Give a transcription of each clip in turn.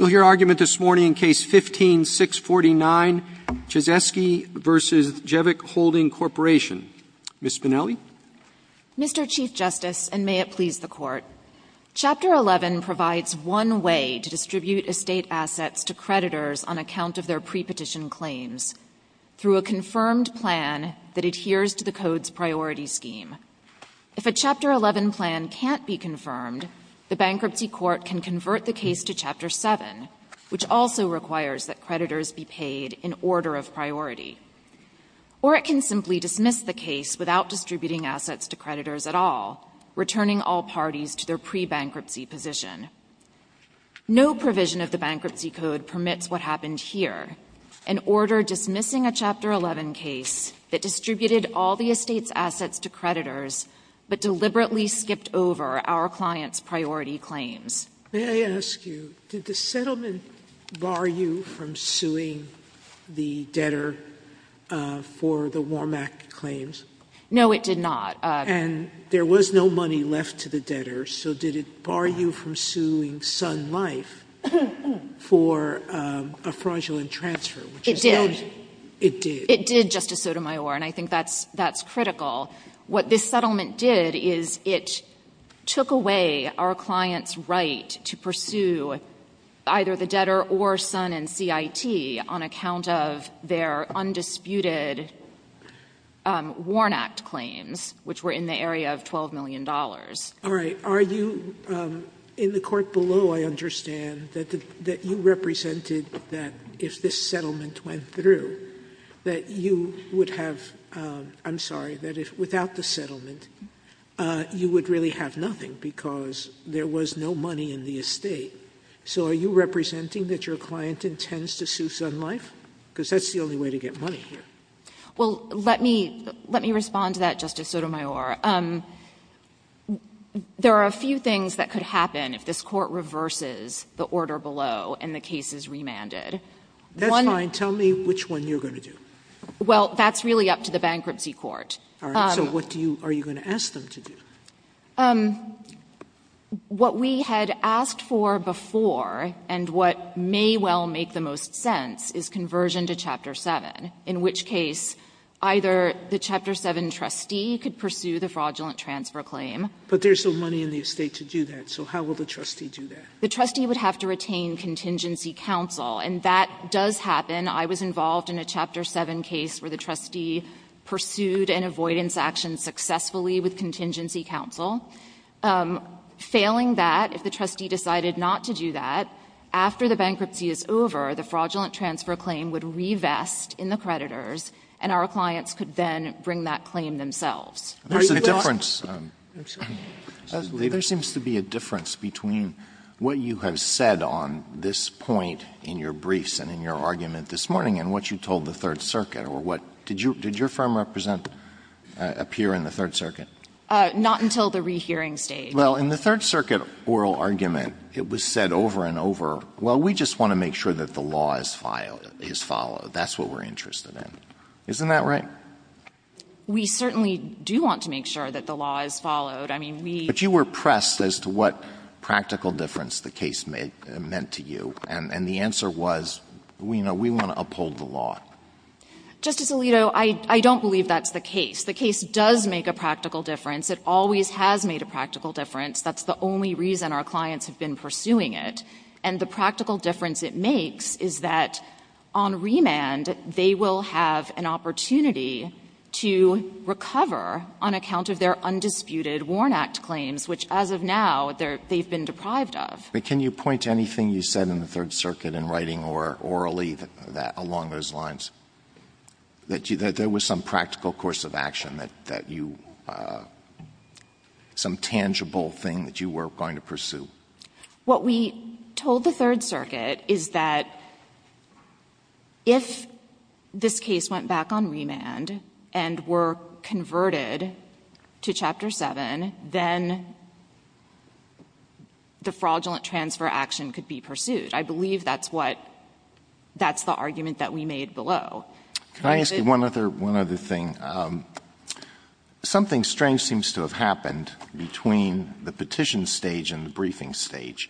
Mr. Chief Justice, and may it please the Court, Chapter 11 provides one way to distribute estate assets to creditors on account of their pre-petition claims, through a confirmed plan that adheres to the Code's priority scheme. If a Chapter 11 plan can't be confirmed, the Bankruptcy Court can convert the case to Chapter 11. The Bankruptcy Court can also dismiss the case without distributing assets to creditors at all, returning all parties to their pre-bankruptcy position. No provision of the Bankruptcy Code permits what happened here, an order dismissing a Chapter 11 case that distributed all the estate's assets to creditors but deliberately skipped over our client's priority claims. Sotomayor, did the settlement bar you from suing the debtor for the Warmack claims? No, it did not. And there was no money left to the debtor, so did it bar you from suing Sun Life for a fraudulent transfer? It did. It did. It did, Justice Sotomayor, and I think that's critical. What this settlement did is it took away our client's right to pursue either the debtor or Sun and CIT on account of their undisputed Warnack claims, which were in the area of $12 million. All right. Are you in the court below, I understand, that you represented that if this settlement went through, that you would have — I'm sorry, that without the settlement, you would really have nothing because there was no money in the estate. So are you representing that your client intends to sue Sun Life? Because that's the only way to get money here. Well, let me — let me respond to that, Justice Sotomayor. There are a few things that could happen if this Court reverses the order below and the case is remanded. That's fine. Tell me which one you're going to do. Well, that's really up to the bankruptcy court. All right. So what do you — are you going to ask them to do? What we had asked for before, and what may well make the most sense, is conversion to Chapter 7, in which case either the Chapter 7 trustee could pursue the fraudulent transfer claim. But there's no money in the estate to do that. So how will the trustee do that? The trustee would have to retain contingency counsel. And that does happen. I was involved in a Chapter 7 case where the trustee pursued an avoidance action successfully with contingency counsel. Failing that, if the trustee decided not to do that, after the bankruptcy is over, the fraudulent transfer claim would revest in the creditors, and our clients could then bring that claim themselves. There's a difference. There seems to be a difference between what you have said on this point in your briefs and in your argument this morning and what you told the Third Circuit. Did your firm represent a peer in the Third Circuit? Not until the rehearing stage. Well, in the Third Circuit oral argument, it was said over and over, well, we just want to make sure that the law is followed. That's what we're interested in. Isn't that right? We certainly do want to make sure that the law is followed. I mean, we — But you were pressed as to what practical difference the case meant to you. And the answer was, you know, we want to uphold the law. Justice Alito, I don't believe that's the case. The case does make a practical difference. It always has made a practical difference. That's the only reason our clients have been pursuing it. And the practical difference it makes is that on remand, they will have an opportunity to recover on account of their undisputed Warren Act claims, which, as of now, they've been deprived of. But can you point to anything you said in the Third Circuit in writing or orally along those lines, that there was some practical course of action that you — some tangible thing that you were going to pursue? What we told the Third Circuit is that if this case went back on remand and were converted to Chapter 7, then the fraudulent transfer action could be pursued. I believe that's what — that's the argument that we made below. Can I ask you one other — one other thing? Something strange seems to have happened between the petition stage and the briefing stage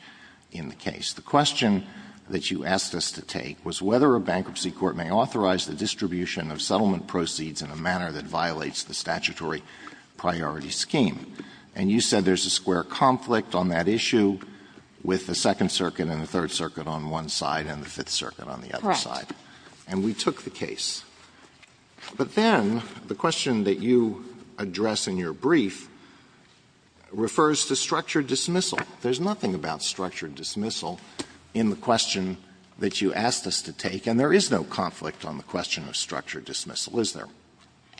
in the case. The question that you asked us to take was whether a bankruptcy court may authorize the distribution of settlement proceeds in a manner that violates the statutory priority scheme. And you said there's a square conflict on that issue with the Second Circuit and the Third Circuit on one side and the Fifth Circuit on the other side. Correct. And we took the case. But then the question that you address in your brief refers to structured dismissal. There's nothing about structured dismissal in the question that you asked us to take. And there is no conflict on the question of structured dismissal, is there?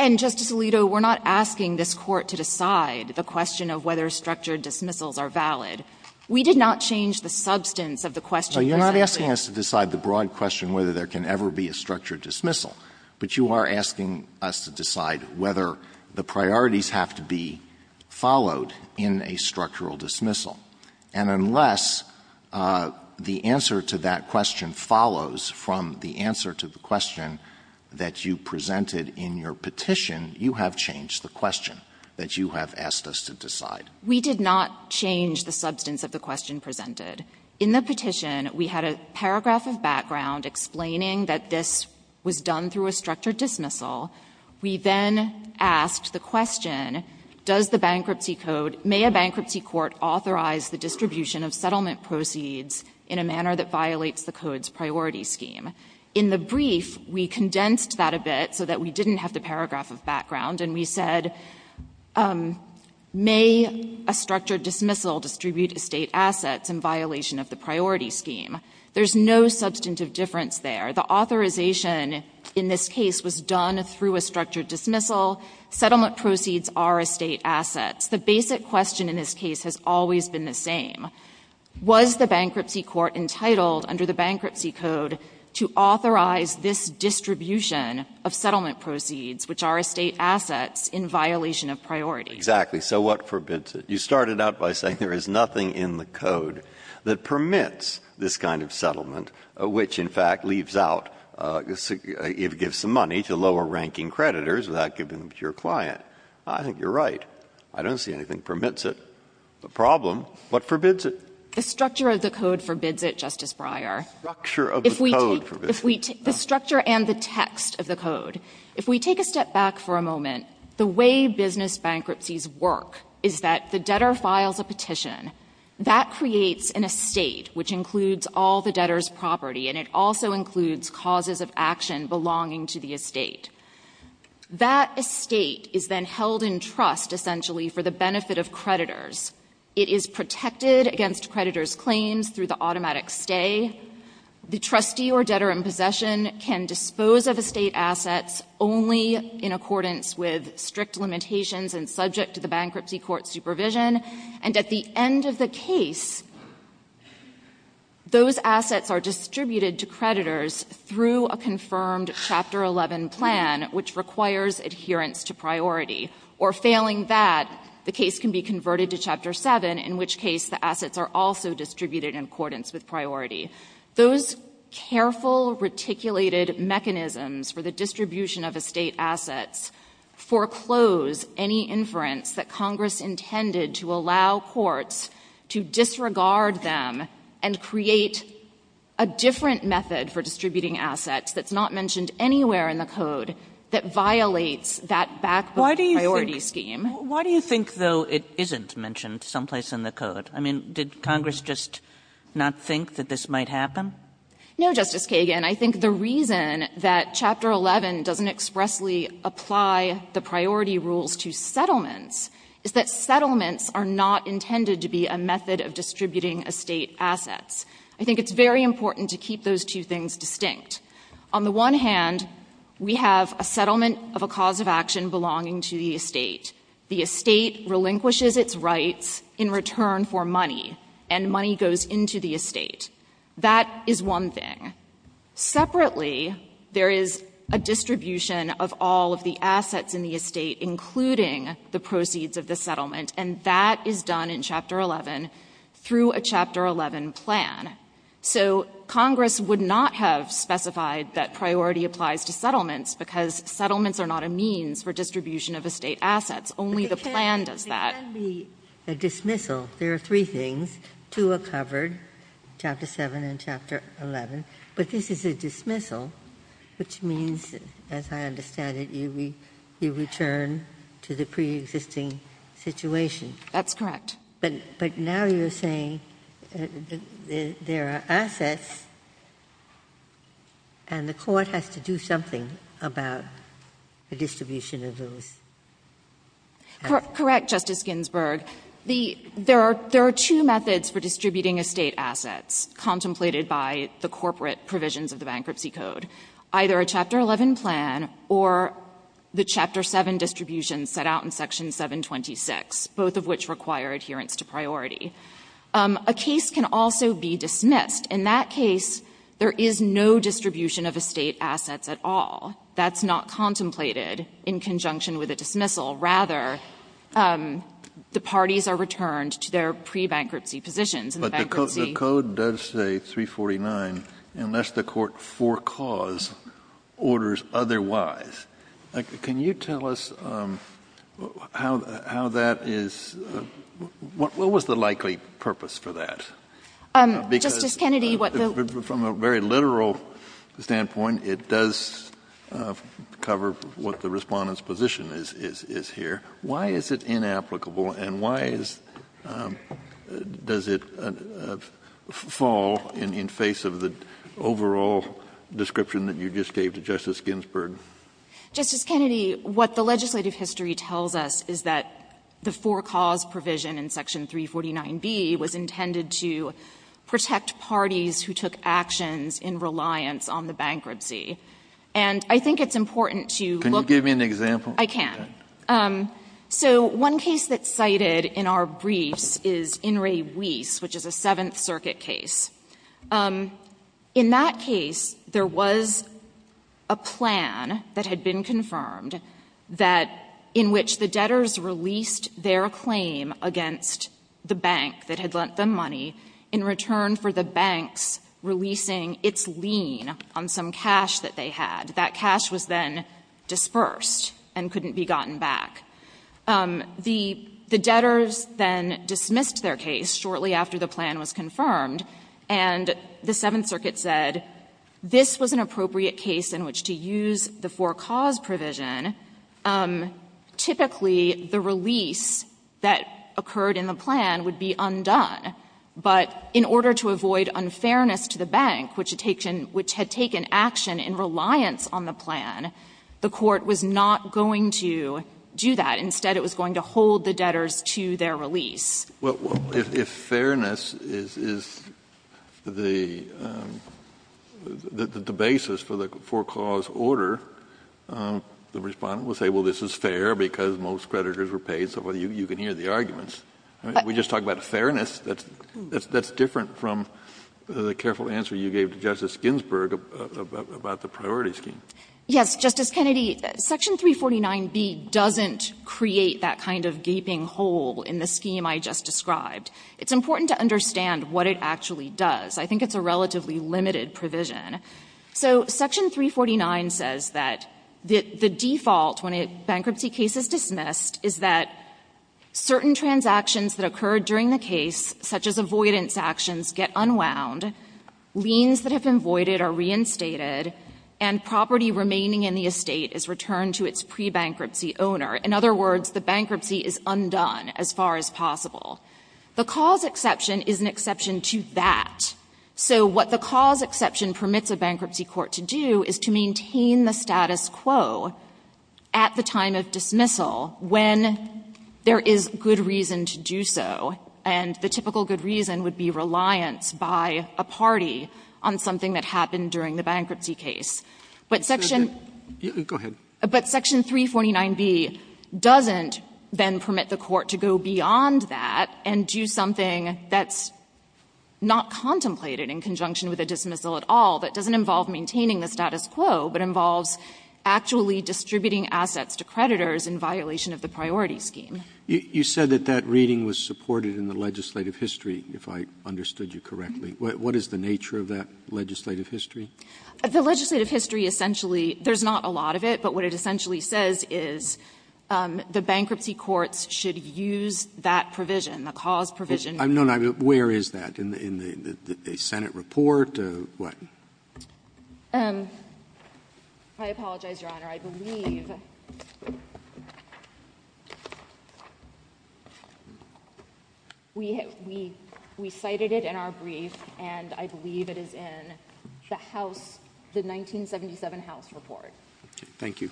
And, Justice Alito, we're not asking this Court to decide the question of whether structured dismissals are valid. We did not change the substance of the question. No, you're not asking us to decide the broad question whether there can ever be a structured dismissal. But you are asking us to decide whether the priorities have to be followed in a structural dismissal. And unless the answer to that question follows from the answer to the question that you presented in your petition, you have changed the question that you have asked us to decide. We did not change the substance of the question presented. In the petition, we had a paragraph of background explaining that this was done through a structured dismissal. We then asked the question, does the bankruptcy code, may a bankruptcy court authorize the distribution of settlement proceeds in a manner that violates the code's priority scheme? In the brief, we condensed that a bit so that we didn't have the paragraph of background, and we said, may a structured dismissal distribute estate assets in violation of the priority scheme? There's no substantive difference there. The authorization in this case was done through a structured dismissal. Settlement proceeds are estate assets. The basic question in this case has always been the same. Was the bankruptcy court entitled under the bankruptcy code to authorize this distribution of settlement proceeds, which are estate assets, in violation of priority? Breyer. Exactly. So what forbids it? You started out by saying there is nothing in the code that permits this kind of settlement, which, in fact, leaves out, gives some money to lower-ranking creditors without giving them to your client. I think you're right. I don't see anything that permits it. The problem, what forbids it? The structure of the code forbids it. The structure and the text of the code. If we take a step back for a moment, the way business bankruptcies work is that the debtor files a petition. That creates an estate, which includes all the debtor's property, and it also includes causes of action belonging to the estate. That estate is then held in trust, essentially, for the benefit of creditors. It is protected against creditors' claims through the automatic stay. The trustee or debtor in possession can dispose of estate assets only in accordance with strict limitations and subject to the bankruptcy court supervision, and at the end of the case, those assets are distributed to creditors through a confirmed Chapter 11 plan, which requires adherence to priority. Or failing that, the case can be converted to Chapter 7, in which case the assets are also distributed in accordance with priority. Those careful, reticulated mechanisms for the distribution of estate assets foreclose any inference that Congress intended to allow courts to disregard them and create a different method for distributing assets that's not mentioned anywhere in the code that violates that backbone priority scheme. Kagan. Why do you think, though, it isn't mentioned someplace in the code? I mean, did Congress just not think that this might happen? No, Justice Kagan. I think the reason that Chapter 11 doesn't expressly apply the priority rules to settlements is that settlements are not intended to be a method of distributing estate assets. I think it's very important to keep those two things distinct. On the one hand, we have a settlement of a cause of action belonging to the estate. The estate relinquishes its rights in return for money, and money goes into the estate. That is one thing. Separately, there is a distribution of all of the assets in the estate, including the proceeds of the settlement. And that is done in Chapter 11 through a Chapter 11 plan. So Congress would not have specified that priority applies to settlements because settlements are not a means for distribution of estate assets. Only the plan does that. Ginsburg. It can be a dismissal. There are three things. Two are covered, Chapter 7 and Chapter 11, but this is a dismissal, which means, as I understand it, you return to the preexisting situation. That's correct. But now you're saying there are assets and the Court has to do something about the distribution of those. Correct, Justice Ginsburg. There are two methods for distributing estate assets contemplated by the corporate provisions of the Bankruptcy Code, either a Chapter 11 plan or the Chapter 7 distribution set out in Section 726, both of which require adherence to priority. A case can also be dismissed. In that case, there is no distribution of estate assets at all. That's not contemplated in conjunction with a dismissal. Rather, the parties are returned to their pre-bankruptcy positions. But the Code does say 349 unless the Court forecalls orders otherwise. Can you tell us how that is — what was the likely purpose for that? Justice Kennedy, what the — From a very literal standpoint, it does cover what the Respondent's position is here. Why is it inapplicable and why is — does it fall in face of the overall description that you just gave to Justice Ginsburg? Justice Kennedy, what the legislative history tells us is that the forecalls provision in Section 349b was intended to protect parties who took actions in reliance on the bankruptcy. And I think it's important to look at — Can you give me an example? I can. So one case that's cited in our briefs is In re Weis, which is a Seventh Circuit case. In that case, there was a plan that had been confirmed that in which the debtors released their claim against the bank that had lent them money in return for the banks releasing its lien on some cash that they had. And that cash was then dispersed and couldn't be gotten back. The debtors then dismissed their case shortly after the plan was confirmed, and the Seventh Circuit said this was an appropriate case in which to use the forecalls provision. Typically, the release that occurred in the plan would be undone. But in order to avoid unfairness to the bank, which had taken action in reliance on the plan, the Court was not going to do that. Instead, it was going to hold the debtors to their release. Kennedy, if fairness is the basis for the forecalls order, the Respondent will say, well, this is fair because most creditors were paid, so you can hear the arguments. We just talk about fairness. That's different from the careful answer you gave to Justice Ginsburg about the priority scheme. Yes, Justice Kennedy, Section 349B doesn't create that kind of gaping hole in the scheme I just described. It's important to understand what it actually does. I think it's a relatively limited provision. So Section 349 says that the default, when a bankruptcy case is dismissed, is that certain transactions that occurred during the case, such as avoidance actions, get unwound, liens that have been voided are reinstated, and property remaining in the estate is returned to its pre-bankruptcy owner. In other words, the bankruptcy is undone as far as possible. The cause exception is an exception to that. So what the cause exception permits a bankruptcy court to do is to maintain the status quo at the time of dismissal when there is good reason to do so, and the typical good reason would be reliance by a party on something that happened during the bankruptcy case. But Section 349B doesn't then permit the court to go beyond that and do something that's not contemplated in conjunction with a dismissal at all, that doesn't involve maintaining the status quo, but involves actually distributing assets to creditors in violation of the priority scheme. Roberts. You said that that reading was supported in the legislative history, if I understood you correctly. What is the nature of that legislative history? The legislative history essentially — there's not a lot of it, but what it essentially says is the bankruptcy courts should use that provision, the cause provision. No, no. Where is that? In the Senate report or what? I apologize, Your Honor. I believe we cited it in our brief, and I believe it is in the House, the 1977 House report. Thank you.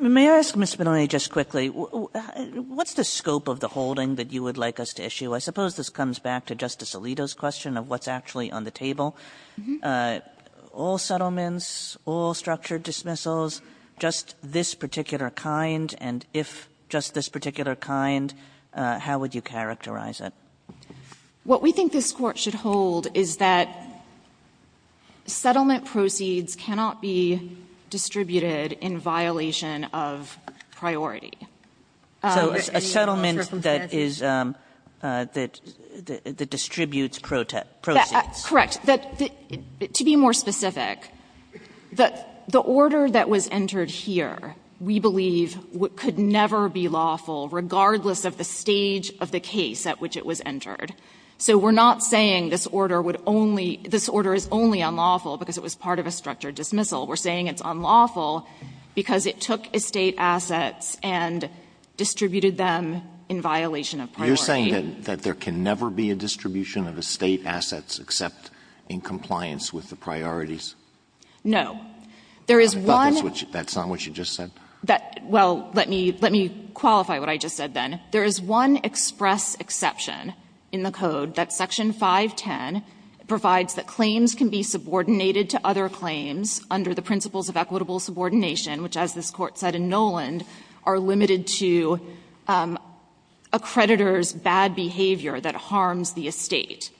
May I ask, Mr. Maloney, just quickly, what's the scope of the holding that you would like us to issue? I suppose this comes back to Justice Alito's question of what's actually on the table. All settlements, all structured dismissals, just this particular kind, and if just this particular kind, how would you characterize it? What we think this Court should hold is that settlement proceeds cannot be distributed in violation of priority. So a settlement that is — that distributes proceeds. Correct. To be more specific, the order that was entered here, we believe, could never be lawful regardless of the stage of the case at which it was entered. So we're not saying this order would only — this order is only unlawful because it was part of a structured dismissal. We're saying it's unlawful because it took estate assets and distributed them in violation of priority. You're saying that there can never be a distribution of estate assets except in compliance with the priorities? No. There is one — I thought that's what you — that's not what you just said. That — well, let me — let me qualify what I just said, then. There is one express exception in the code that Section 510 provides that claims can be subordinated to other claims under the principles of equitable subordination, which, as this Court said in Noland, are limited to a creditor's bad behavior that harms the estate.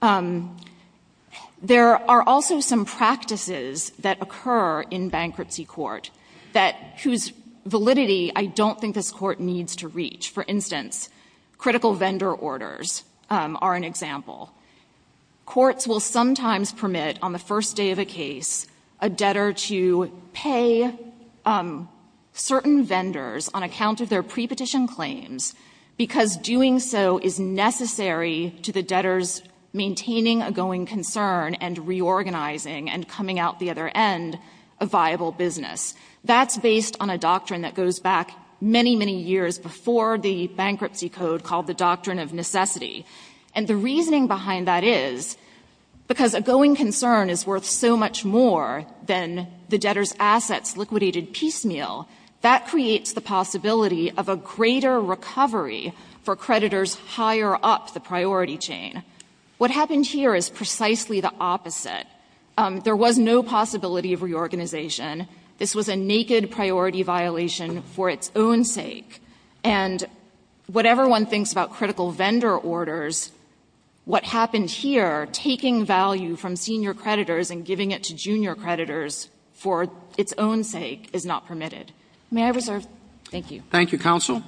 There are also some practices that occur in bankruptcy court that — whose validity I don't think this Court needs to reach. For instance, critical vendor orders are an example. Courts will sometimes permit, on the first day of a case, a debtor to pay certain vendors on account of their prepetition claims because doing so is necessary to the debtor's maintaining a going concern and reorganizing and coming out the other end a viable business. That's based on a doctrine that goes back many, many years before the bankruptcy code called the doctrine of necessity. And the reasoning behind that is because a going concern is worth so much more than the debtor's assets liquidated piecemeal, that creates the possibility of a greater recovery for creditors higher up the priority chain. What happened here is precisely the opposite. There was no possibility of reorganization. This was a naked priority violation for its own sake. And whatever one thinks about critical vendor orders, what happened here, taking value from senior creditors and giving it to junior creditors for its own sake is not permitted. May I reserve? Thank you. Roberts. Thank you, counsel.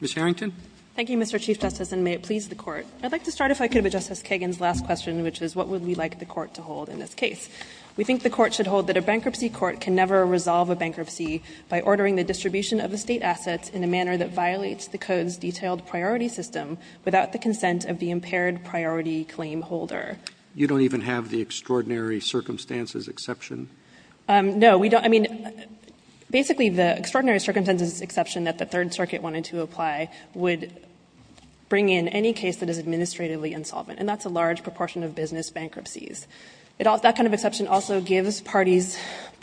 Ms. Harrington. Thank you, Mr. Chief Justice, and may it please the Court. I'd like to start, if I could, with Justice Kagan's last question, which is what would we like the Court to hold in this case? We think the Court should hold that a bankruptcy court can never resolve a bankruptcy by ordering the distribution of the State assets in a manner that violates the code's detailed priority system without the consent of the impaired priority claim holder. You don't even have the extraordinary circumstances exception? No. We don't. I mean, basically, the extraordinary circumstances exception that the Third Circuit wanted to apply would bring in any case that is administratively insolvent, and that's a large proportion of business bankruptcies. That kind of exception also gives parties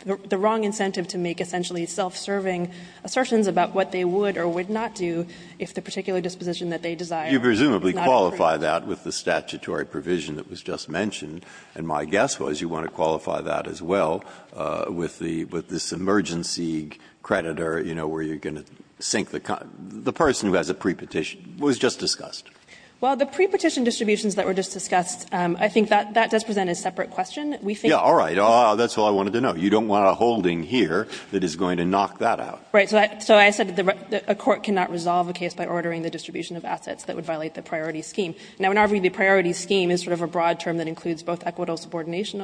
the wrong incentive to make essentially self-serving assertions about what they would or would not do if the particular disposition that they desire not be fulfilled. You presumably qualify that with the statutory provision that was just mentioned, and my guess was you want to qualify that as well with the emergency creditor, you know, where you're going to sink the person who has a prepetition. It was just discussed. Well, the prepetition distributions that were just discussed, I think that does present a separate question. We think that's all I wanted to know. You don't want a holding here that is going to knock that out. Right. So I said that a court cannot resolve a case by ordering the distribution of assets that would violate the priority scheme. Now, in our view, the priority scheme is sort of a broad term that includes both equitable subordination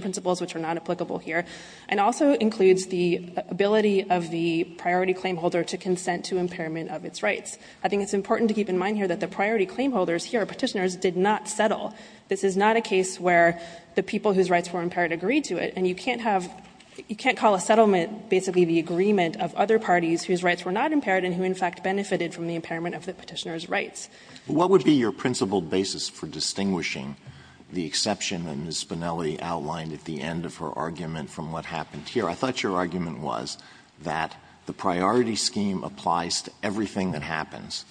principles, which are not applicable here, and also includes the ability of the priority claim holder to consent to impairment of its rights. I think it's important to keep in mind here that the priority claim holders here, Petitioners, did not settle. This is not a case where the people whose rights were impaired agreed to it, and you can't have you can't call a settlement basically the agreement of other parties whose rights were not impaired and who in fact benefited from the impairment of the Petitioner's rights. Alito, what would be your principled basis for distinguishing the exception that Ms. Spinelli outlined at the end of her argument from what happened here? I thought your argument was that the priority scheme applies to everything that happens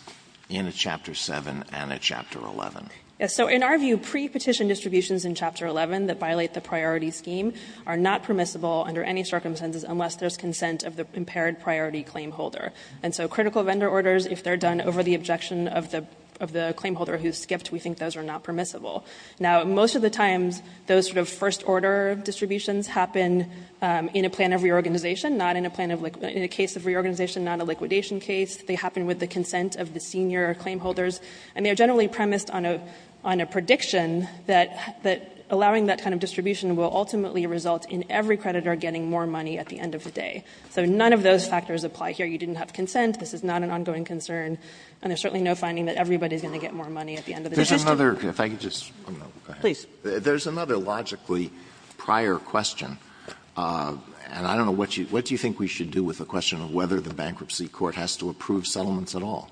in a Chapter 7 and a Chapter 11. Spinelli. Yes. So in our view, pre-petition distributions in Chapter 11 that violate the priority scheme are not permissible under any circumstances unless there is consent of the impaired priority claim holder. And so critical vendor orders, if they are done over the objection of the claim holder who skipped, we think those are not permissible. Now, most of the times, those sort of first order distributions happen in a plan of reorganization, not in a plan of liquidation, in a case of reorganization, not a liquidation case. They happen with the consent of the senior claim holders, and they are generally premised on a prediction that allowing that kind of distribution will ultimately result in every creditor getting more money at the end of the day. So none of those factors apply here. You didn't have consent. This is not an ongoing concern, and there's certainly no finding that everybody is going to get more money at the end of the day. Alito, if I could just add one more thing. There's another logically prior question, and I don't know, what do you think we should do with the question of whether the bankruptcy court has to approve settlements at all?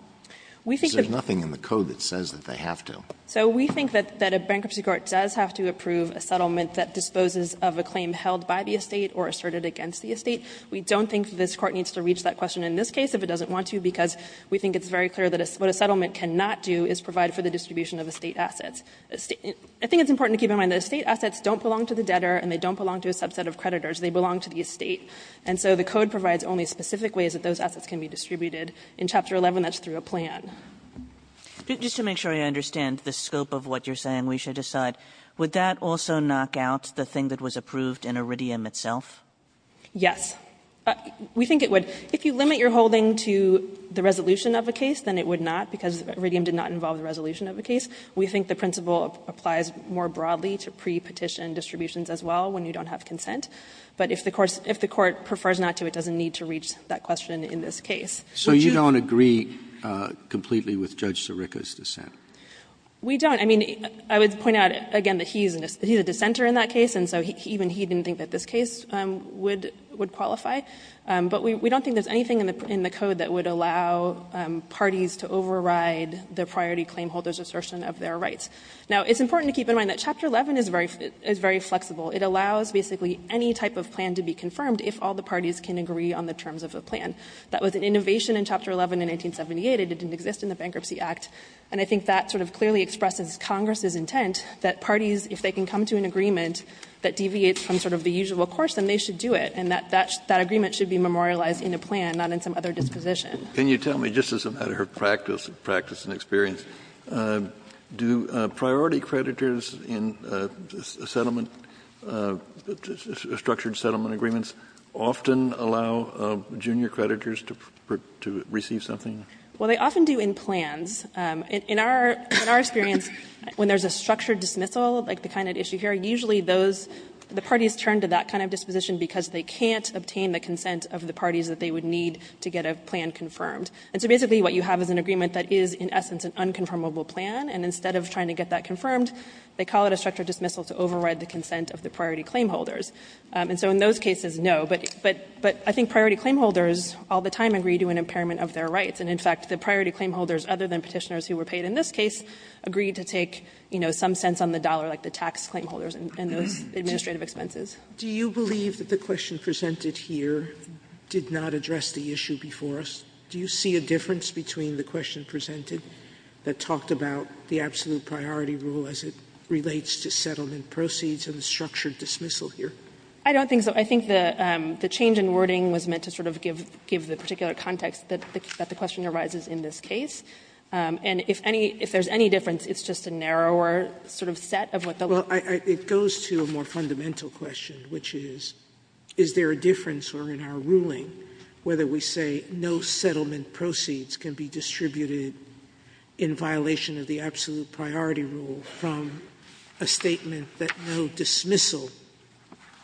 Because there's nothing in the code that says that they have to. So we think that a bankruptcy court does have to approve a settlement that disposes of a claim held by the estate or asserted against the estate. We don't think this Court needs to reach that question in this case if it doesn't want to, because we think it's very clear that what a settlement cannot do is provide for the distribution of estate assets. I think it's important to keep in mind that estate assets don't belong to the debtor and they don't belong to a subset of creditors. They belong to the estate. And so the code provides only specific ways that those assets can be distributed. In Chapter 11, that's through a plan. Kagan. Keisler. Just to make sure I understand the scope of what you're saying, we should decide. Would that also knock out the thing that was approved in Iridium itself? Yes. We think it would. If you limit your holding to the resolution of a case, then it would not because Iridium did not involve the resolution of the case. We think the principle applies more broadly to pre-petition distributions as well when you don't have consent. But if the court prefers not to, it doesn't need to reach that question in this case. So you don't agree completely with Judge Sirica's dissent? We don't. I would point out, again, that he's a dissenter in that case. And so even he didn't think that this case would qualify. But we don't think there's anything in the code that would allow parties to override the priority claimholder's assertion of their rights. Now, it's important to keep in mind that Chapter 11 is very flexible. It allows basically any type of plan to be confirmed if all the parties can agree on the terms of the plan. That was an innovation in Chapter 11 in 1978. It didn't exist in the Bankruptcy Act. And I think that sort of clearly expresses Congress's intent that parties, if they can come to an agreement that deviates from sort of the usual course, then they should do it, and that agreement should be memorialized in a plan, not in some other disposition. Kennedy, just as a matter of practice and experience, do priority creditors in settlement, structured settlement agreements, often allow junior creditors to receive something? Well, they often do in plans. In our experience, when there's a structured dismissal, like the kind at issue here, usually those, the parties turn to that kind of disposition because they can't obtain the consent of the parties that they would need to get a plan confirmed. And so basically what you have is an agreement that is in essence an unconfirmable plan, and instead of trying to get that confirmed, they call it a structured dismissal to override the consent of the priority claimholders. And so in those cases, no. But I think priority claimholders all the time agree to an impairment of their rights. And in fact, the priority claimholders, other than Petitioners who were paid in this case, agreed to take, you know, some cents on the dollar, like the tax claimholders and those administrative expenses. Sotomayor's do you believe that the question presented here did not address the issue before us? Do you see a difference between the question presented that talked about the absolute priority rule as it relates to settlement proceeds and the structured dismissal here? I don't think so. I think the change in wording was meant to sort of give the particular context that the question arises in this case. And if any, if there's any difference, it's just a narrower sort of set of what the law says. Sotomayor's Well, it goes to a more fundamental question, which is, is there a difference in our ruling whether we say no settlement proceeds can be distributed in violation of the absolute priority rule from a statement that no dismissal,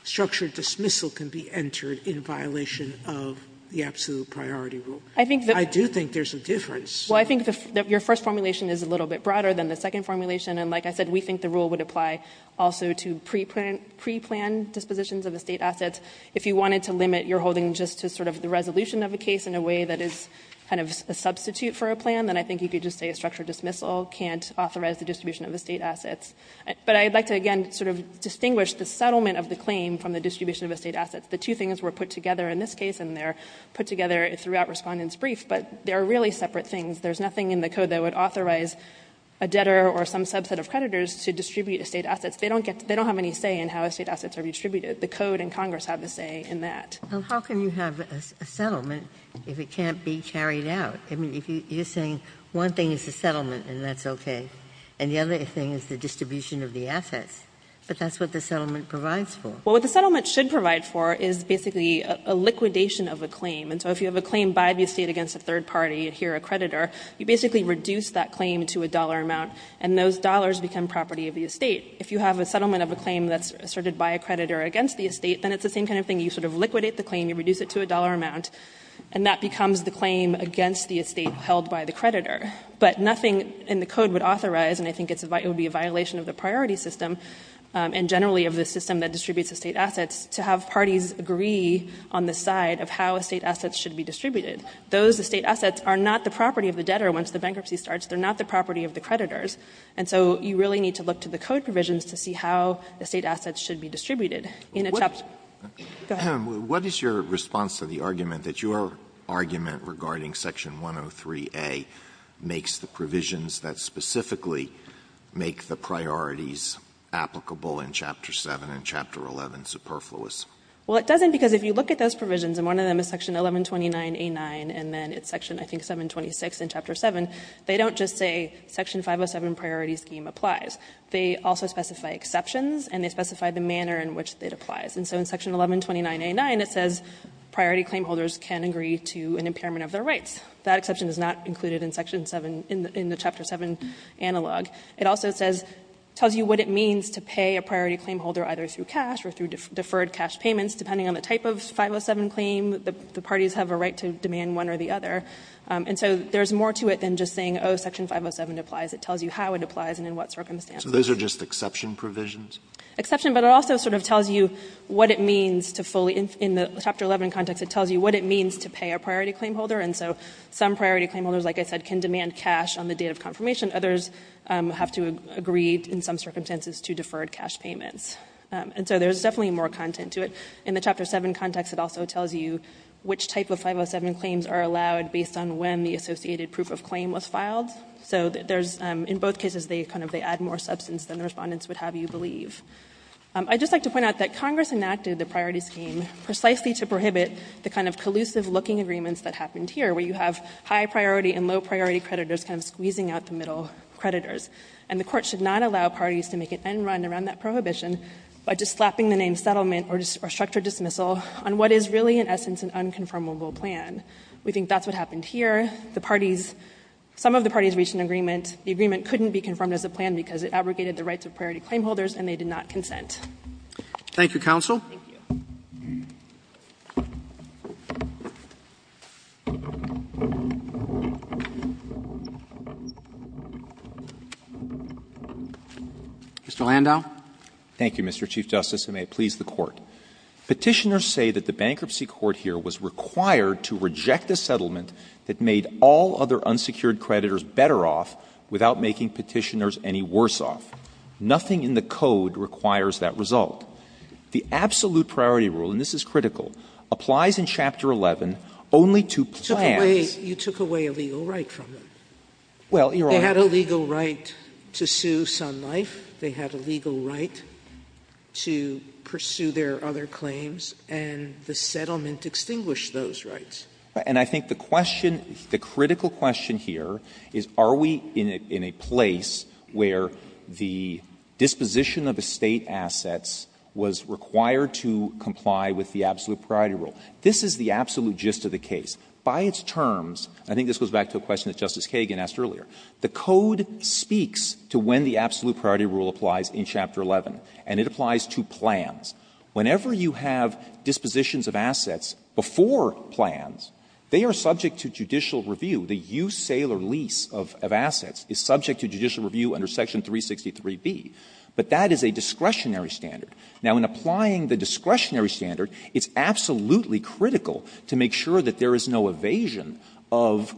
structured dismissal, can be entered in violation of the absolute priority rule? I do think there's a difference. Well, I think your first formulation is a little bit broader than the second formulation. And like I said, we think the rule would apply also to pre-planned dispositions of estate assets. If you wanted to limit your holding just to sort of the resolution of a case in a way that is kind of a substitute for a plan, then I think you could just say a structured dismissal can't authorize the distribution of estate assets. But I'd like to, again, sort of distinguish the settlement of the claim from the distribution of estate assets. The two things were put together in this case, and they're put together throughout Respondent's brief, but they're really separate things. There's nothing in the code that would authorize a debtor or some subset of creditors to distribute estate assets. They don't have any say in how estate assets are redistributed. The code and Congress have a say in that. Ginsburg, how can you have a settlement if it can't be carried out? I mean, you're saying one thing is the settlement and that's okay, and the other thing is the distribution of the assets, but that's what the settlement provides for. Well, what the settlement should provide for is basically a liquidation of a claim. And so if you have a claim by the estate against a third party, here a creditor, you basically reduce that claim to a dollar amount, and those dollars become property of the estate. If you have a settlement of a claim that's asserted by a creditor against the estate, then it's the same kind of thing. You sort of liquidate the claim. You reduce it to a dollar amount, and that becomes the claim against the estate held by the creditor. But nothing in the code would authorize, and I think it would be a violation of the priority system, and generally of the system that distributes estate assets, to have parties agree on the side of how estate assets should be distributed. Those estate assets are not the property of the debtor once the bankruptcy starts. They're not the property of the creditors. And so you really need to look to the code provisions to see how the estate assets should be distributed. In a chapter go ahead. Alito, what is your response to the argument that your argument regarding Section 103a makes the provisions that specifically make the priorities applicable in Chapter 7 and Chapter 11 superfluous? Well, it doesn't, because if you look at those provisions, and one of them is Section 1129a9, and then it's Section, I think, 726 in Chapter 7, they don't just say Section 507 priority scheme applies. They also specify exceptions, and they specify the manner in which it applies. And so in Section 1129a9, it says priority claim holders can agree to an impairment of their rights. That exception is not included in Section 7, in the Chapter 7 analog. It also says, tells you what it means to pay a priority claim holder either through deferred cash payments, depending on the type of 507 claim, the parties have a right to demand one or the other. And so there's more to it than just saying, oh, Section 507 applies. It tells you how it applies and in what circumstances. So those are just exception provisions? Exception, but it also sort of tells you what it means to fully, in the Chapter 11 context, it tells you what it means to pay a priority claim holder. And so some priority claim holders, like I said, can demand cash on the date of confirmation. Others have to agree, in some circumstances, to deferred cash payments. And so there's definitely more content to it. In the Chapter 7 context, it also tells you which type of 507 claims are allowed based on when the associated proof of claim was filed. So there's, in both cases, they kind of, they add more substance than the Respondents would have you believe. I'd just like to point out that Congress enacted the priority scheme precisely to prohibit the kind of collusive-looking agreements that happened here, where you have high-priority and low-priority creditors kind of squeezing out the middle creditors. And the Court should not allow parties to make an end run around that prohibition by just slapping the name settlement or structured dismissal on what is really, in essence, an unconfirmable plan. We think that's what happened here. The parties, some of the parties reached an agreement. The agreement couldn't be confirmed as a plan because it abrogated the rights of priority claim holders, and they did not consent. Thank you, counsel. Thank you. Mr. Landau. Thank you, Mr. Chief Justice, and may it please the Court. Petitioners say that the bankruptcy court here was required to reject a settlement that made all other unsecured creditors better off without making Petitioners any worse off. Nothing in the code requires that result. The absolute priority rule, and this is critical, applies in Chapter 11 only to plans You took away a legal right from them. Well, Your Honor. They had a legal right to sue Sun Life. They had a legal right to pursue their other claims, and the settlement extinguished those rights. And I think the question, the critical question here is are we in a place where the disposition of estate assets was required to comply with the absolute priority rule? This is the absolute gist of the case. By its terms, I think this goes back to a question that Justice Kagan asked earlier, the code speaks to when the absolute priority rule applies in Chapter 11, and it applies to plans. Whenever you have dispositions of assets before plans, they are subject to judicial review. The use, sale, or lease of assets is subject to judicial review under Section 363b, but that is a discretionary standard. Now, in applying the discretionary standard, it's absolutely critical to make sure that there is no evasion of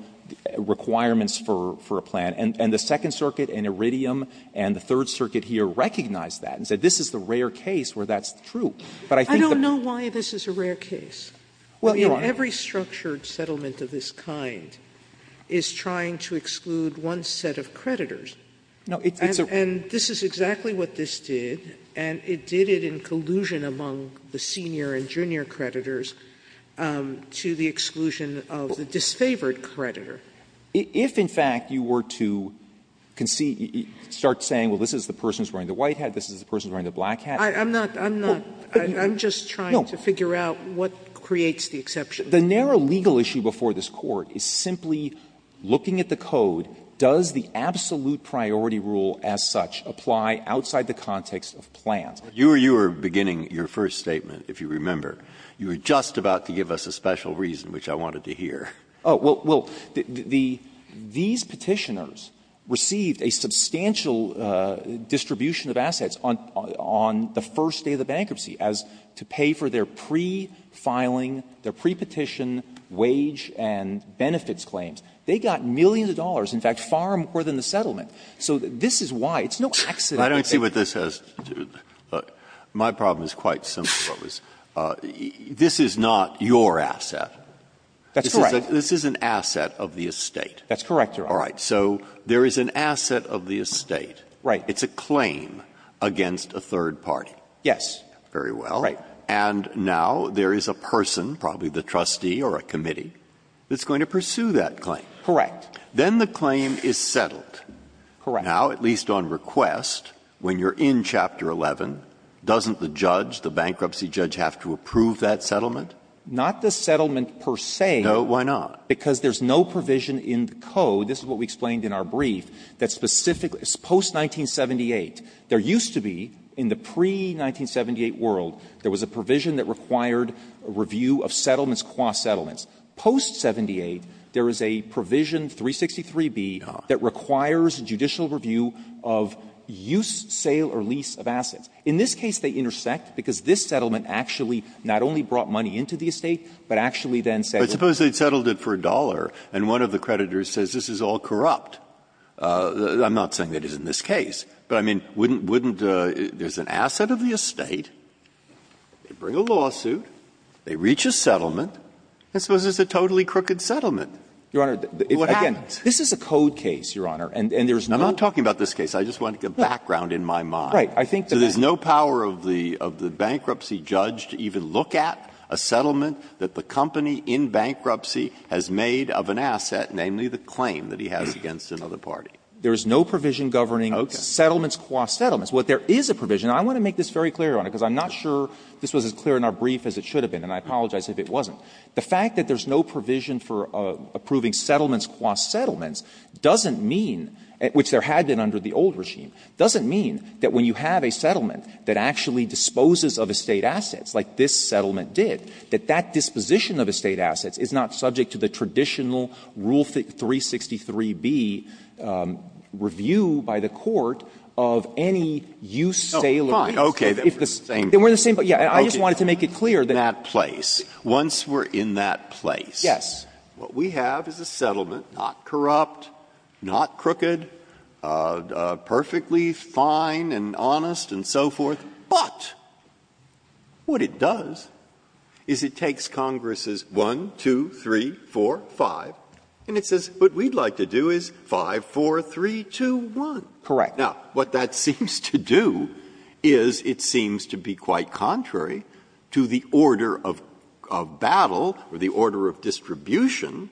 requirements for a plan. And the Second Circuit and Iridium and the Third Circuit here recognized that and said this is the rare case where that's true. But I think the question is why this is a rare case. Every structured settlement of this kind is trying to exclude one set of creditors. And this is exactly what this did, and it did it in collusion among the senior creditors and junior creditors to the exclusion of the disfavored creditor. If, in fact, you were to concede, start saying, well, this is the person who's wearing the white hat, this is the person who's wearing the black hat. I'm not, I'm not, I'm just trying to figure out what creates the exception. The narrow legal issue before this Court is simply looking at the code, does the absolute priority rule as such apply outside the context of plans? Breyer, you were beginning your first statement, if you remember. You were just about to give us a special reason, which I wanted to hear. Oh, well, these Petitioners received a substantial distribution of assets on the first day of the bankruptcy, as to pay for their pre-filing, their pre-petition wage and benefits claims. They got millions of dollars, in fact, far more than the settlement. It's no accident that they got millions of dollars. My problem is quite simple. This is not your asset. That's correct. This is an asset of the estate. That's correct, Your Honor. All right. So there is an asset of the estate. Right. It's a claim against a third party. Yes. Very well. Right. And now there is a person, probably the trustee or a committee, that's going to pursue that claim. Correct. Then the claim is settled. Correct. Now, at least on request, when you're in Chapter 11, doesn't the judge, the bankruptcy judge, have to approve that settlement? Not the settlement per se. No. Why not? Because there's no provision in the code. This is what we explained in our brief, that specifically, post-1978, there used to be, in the pre-1978 world, there was a provision that required a review of settlements qua settlements. Post-1978, there is a provision, 363b, that requires a judicial review of use, sale, or lease of assets. In this case, they intersect, because this settlement actually not only brought money into the estate, but actually then settled it. But suppose they settled it for a dollar, and one of the creditors says this is all corrupt. I'm not saying it is in this case, but I mean, wouldn't there's an asset of the estate, they bring a lawsuit, they reach a settlement, and suppose it's a totally crooked settlement? What happens? Again, this is a code case, Your Honor, and there's not. I'm not talking about this case. I just want to get background in my mind. Right. I think that that's. So there's no power of the bankruptcy judge to even look at a settlement that the company in bankruptcy has made of an asset, namely the claim that he has against another party. There is no provision governing settlements qua settlements. What there is a provision, and I want to make this very clear, Your Honor, because I'm not sure this was as clear in our brief as it should have been, and I apologize if it wasn't. The fact that there's no provision for approving settlements qua settlements doesn't mean, which there had been under the old regime, doesn't mean that when you have a settlement that actually disposes of estate assets like this settlement did, that that disposition of estate assets is not subject to the traditional rule 363B review by the Court of any use, sale, or lease. Breyer, then we're the same. I just wanted to make it clear that. Breyer, once we're in that place, what we have is a settlement not corrupt, not crooked, perfectly fine and honest and so forth, but what it does is it takes Congress's 5, 4, 3, 2, 1, 2, 3, 4, 5, and it says what we'd like to do is 5, 4, 3, 2, 1. Correct. Now, what that seems to do is it seems to be quite contrary to the order of battle or the order of distribution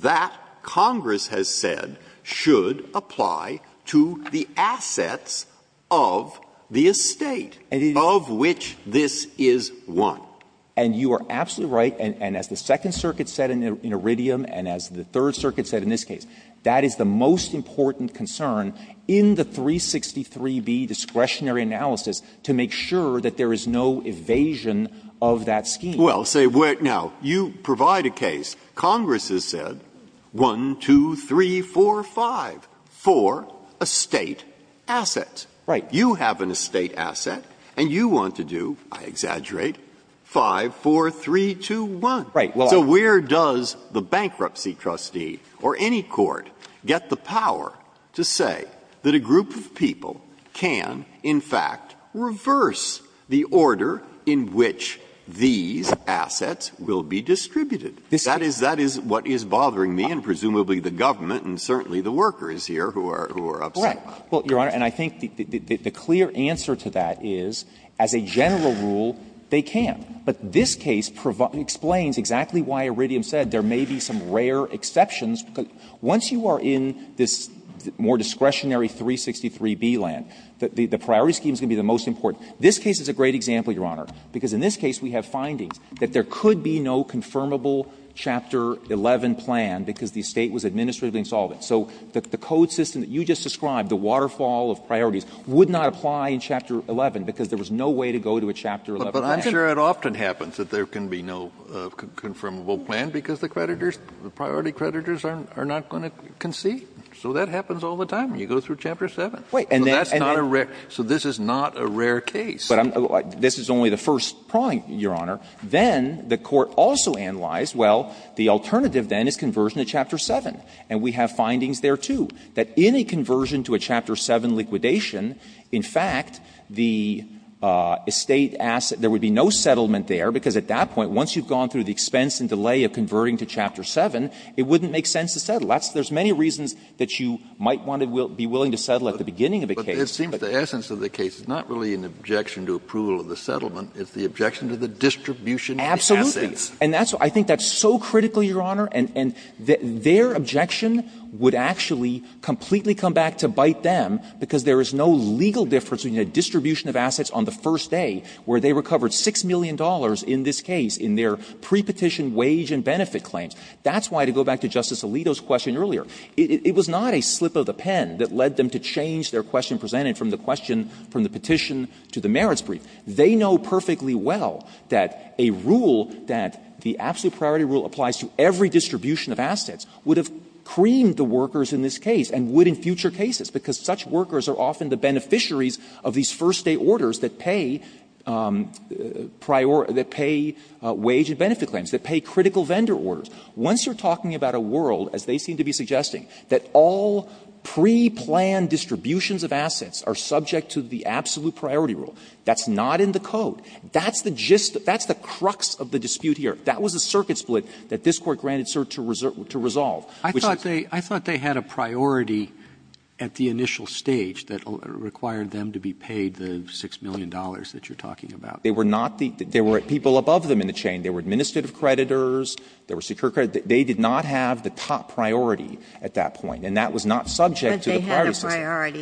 that Congress has said should apply to the assets of the estate of which this is one. And you are absolutely right, and as the Second Circuit said in Iridium and as the Third Circuit said in this case, that is the most important concern in the 363B discretionary analysis to make sure that there is no evasion of that scheme. Well, say, now, you provide a case, Congress has said, 1, 2, 3, 4, 5, for estate assets. Right. You have an estate asset and you want to do, I exaggerate, 5, 4, 3, 2, 1. Right. So where does the bankruptcy trustee or any court get the power to say that a group of people can, in fact, reverse the order in which these assets will be distributed? That is what is bothering me and presumably the government and certainly the workers here who are upset about it. Well, Your Honor, and I think the clear answer to that is, as a general rule, they can't. But this case explains exactly why Iridium said there may be some rare exceptions. Once you are in this more discretionary 363B land, the priority scheme is going to be the most important. This case is a great example, Your Honor, because in this case we have findings that there could be no confirmable Chapter 11 plan because the estate was administratively insolvent. So the code system that you just described, the waterfall of priorities, would not apply in Chapter 11 because there was no way to go to a Chapter 11 plan. But I'm sure it often happens that there can be no confirmable plan because the creditors the priority creditors are not going to concede. So that happens all the time. You go through Chapter 7. Wait. And then. So that's not a rare so this is not a rare case. But this is only the first prong, Your Honor. Then the court also analyzed, well, the alternative then is conversion to Chapter 7. And we have findings there, too, that in a conversion to a Chapter 7 liquidation, in fact, the estate asset, there would be no settlement there because at that point once you've gone through the expense and delay of converting to Chapter 7, it wouldn't make sense to settle. There's many reasons that you might want to be willing to settle at the beginning of a case. Kennedy, but it seems the essence of the case is not really an objection to approval of the settlement, it's the objection to the distribution of the assets. And that's what I think that's so critical, Your Honor, and their objection would actually completely come back to bite them because there is no legal difference between a distribution of assets on the first day where they recovered $6 million in this case in their prepetition wage and benefit claims. That's why, to go back to Justice Alito's question earlier, it was not a slip of the pen that led them to change their question presented from the question from the petition to the merits brief. They know perfectly well that a rule that the absolute priority rule applies to every distribution of assets would have creamed the workers in this case and would in future cases, because such workers are often the beneficiaries of these first-day orders that pay priority or that pay wage and benefit claims, that pay critical vendor orders. Once you're talking about a world, as they seem to be suggesting, that all preplanned distributions of assets are subject to the absolute priority rule, that's not the case, that's not in the code, that's the crux of the dispute here. That was a circuit split that this Court granted cert to resolve. Robertson, I thought they had a priority at the initial stage that required them to be paid the $6 million that you're talking about. They were not the – they were people above them in the chain. They were administrative creditors, they were secure creditors. They did not have the top priority at that point, and that was not subject to the priority system. Ginsburg What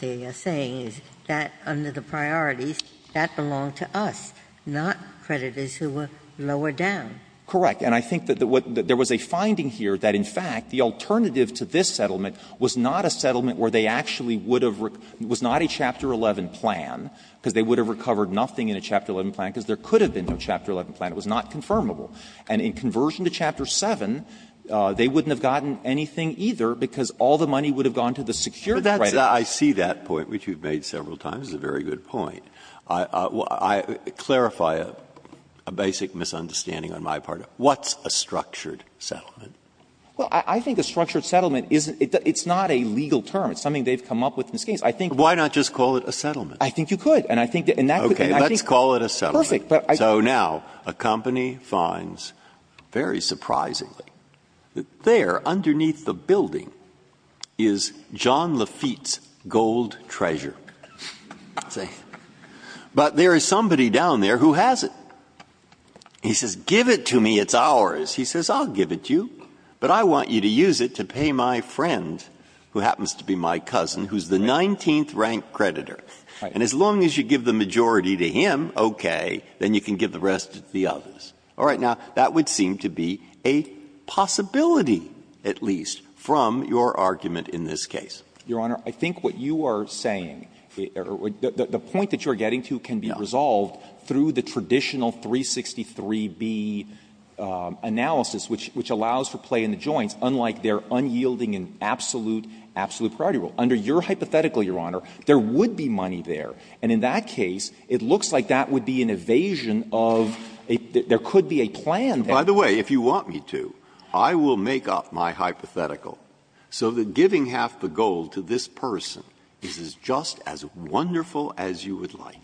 they are saying is that under the priorities, that belonged to us, not creditors who were lower down. Correct. And I think that there was a finding here that, in fact, the alternative to this settlement was not a settlement where they actually would have – it was not a Chapter 11 plan, because they would have recovered nothing in a Chapter 11 plan, because there could have been no Chapter 11 plan. It was not confirmable. And in conversion to Chapter 7, they wouldn't have gotten anything either, because all the money would have gone to the secure creditors. Breyer I see that point, which you've made several times. It's a very good point. I clarify a basic misunderstanding on my part. What's a structured settlement? Well, I think a structured settlement is – it's not a legal term. It's something they've come up with in this case. I think – Breyer Why not just call it a settlement? I think you could. And I think that – and that could – and I think – Breyer Okay. Let's call it a settlement. Perfect. So now, a company finds, very surprisingly, that there, underneath the building, is John Lafitte's gold treasure. But there is somebody down there who has it. He says, give it to me. It's ours. He says, I'll give it to you, but I want you to use it to pay my friend, who happens to be my cousin, who's the 19th-ranked creditor. And as long as you give the majority to him, okay, then you can give the rest to the others. All right. Now, that would seem to be a possibility, at least, from your argument in this case. Your Honor, I think what you are saying – the point that you are getting to can be resolved through the traditional 363B analysis, which allows for play in the joints, unlike their unyielding and absolute – absolute priority rule. Under your hypothetical, Your Honor, there would be money there. And in that case, it looks like that would be an evasion of a – there could be a plan there. By the way, if you want me to, I will make up my hypothetical so that giving half the gold to this person is just as wonderful as you would like.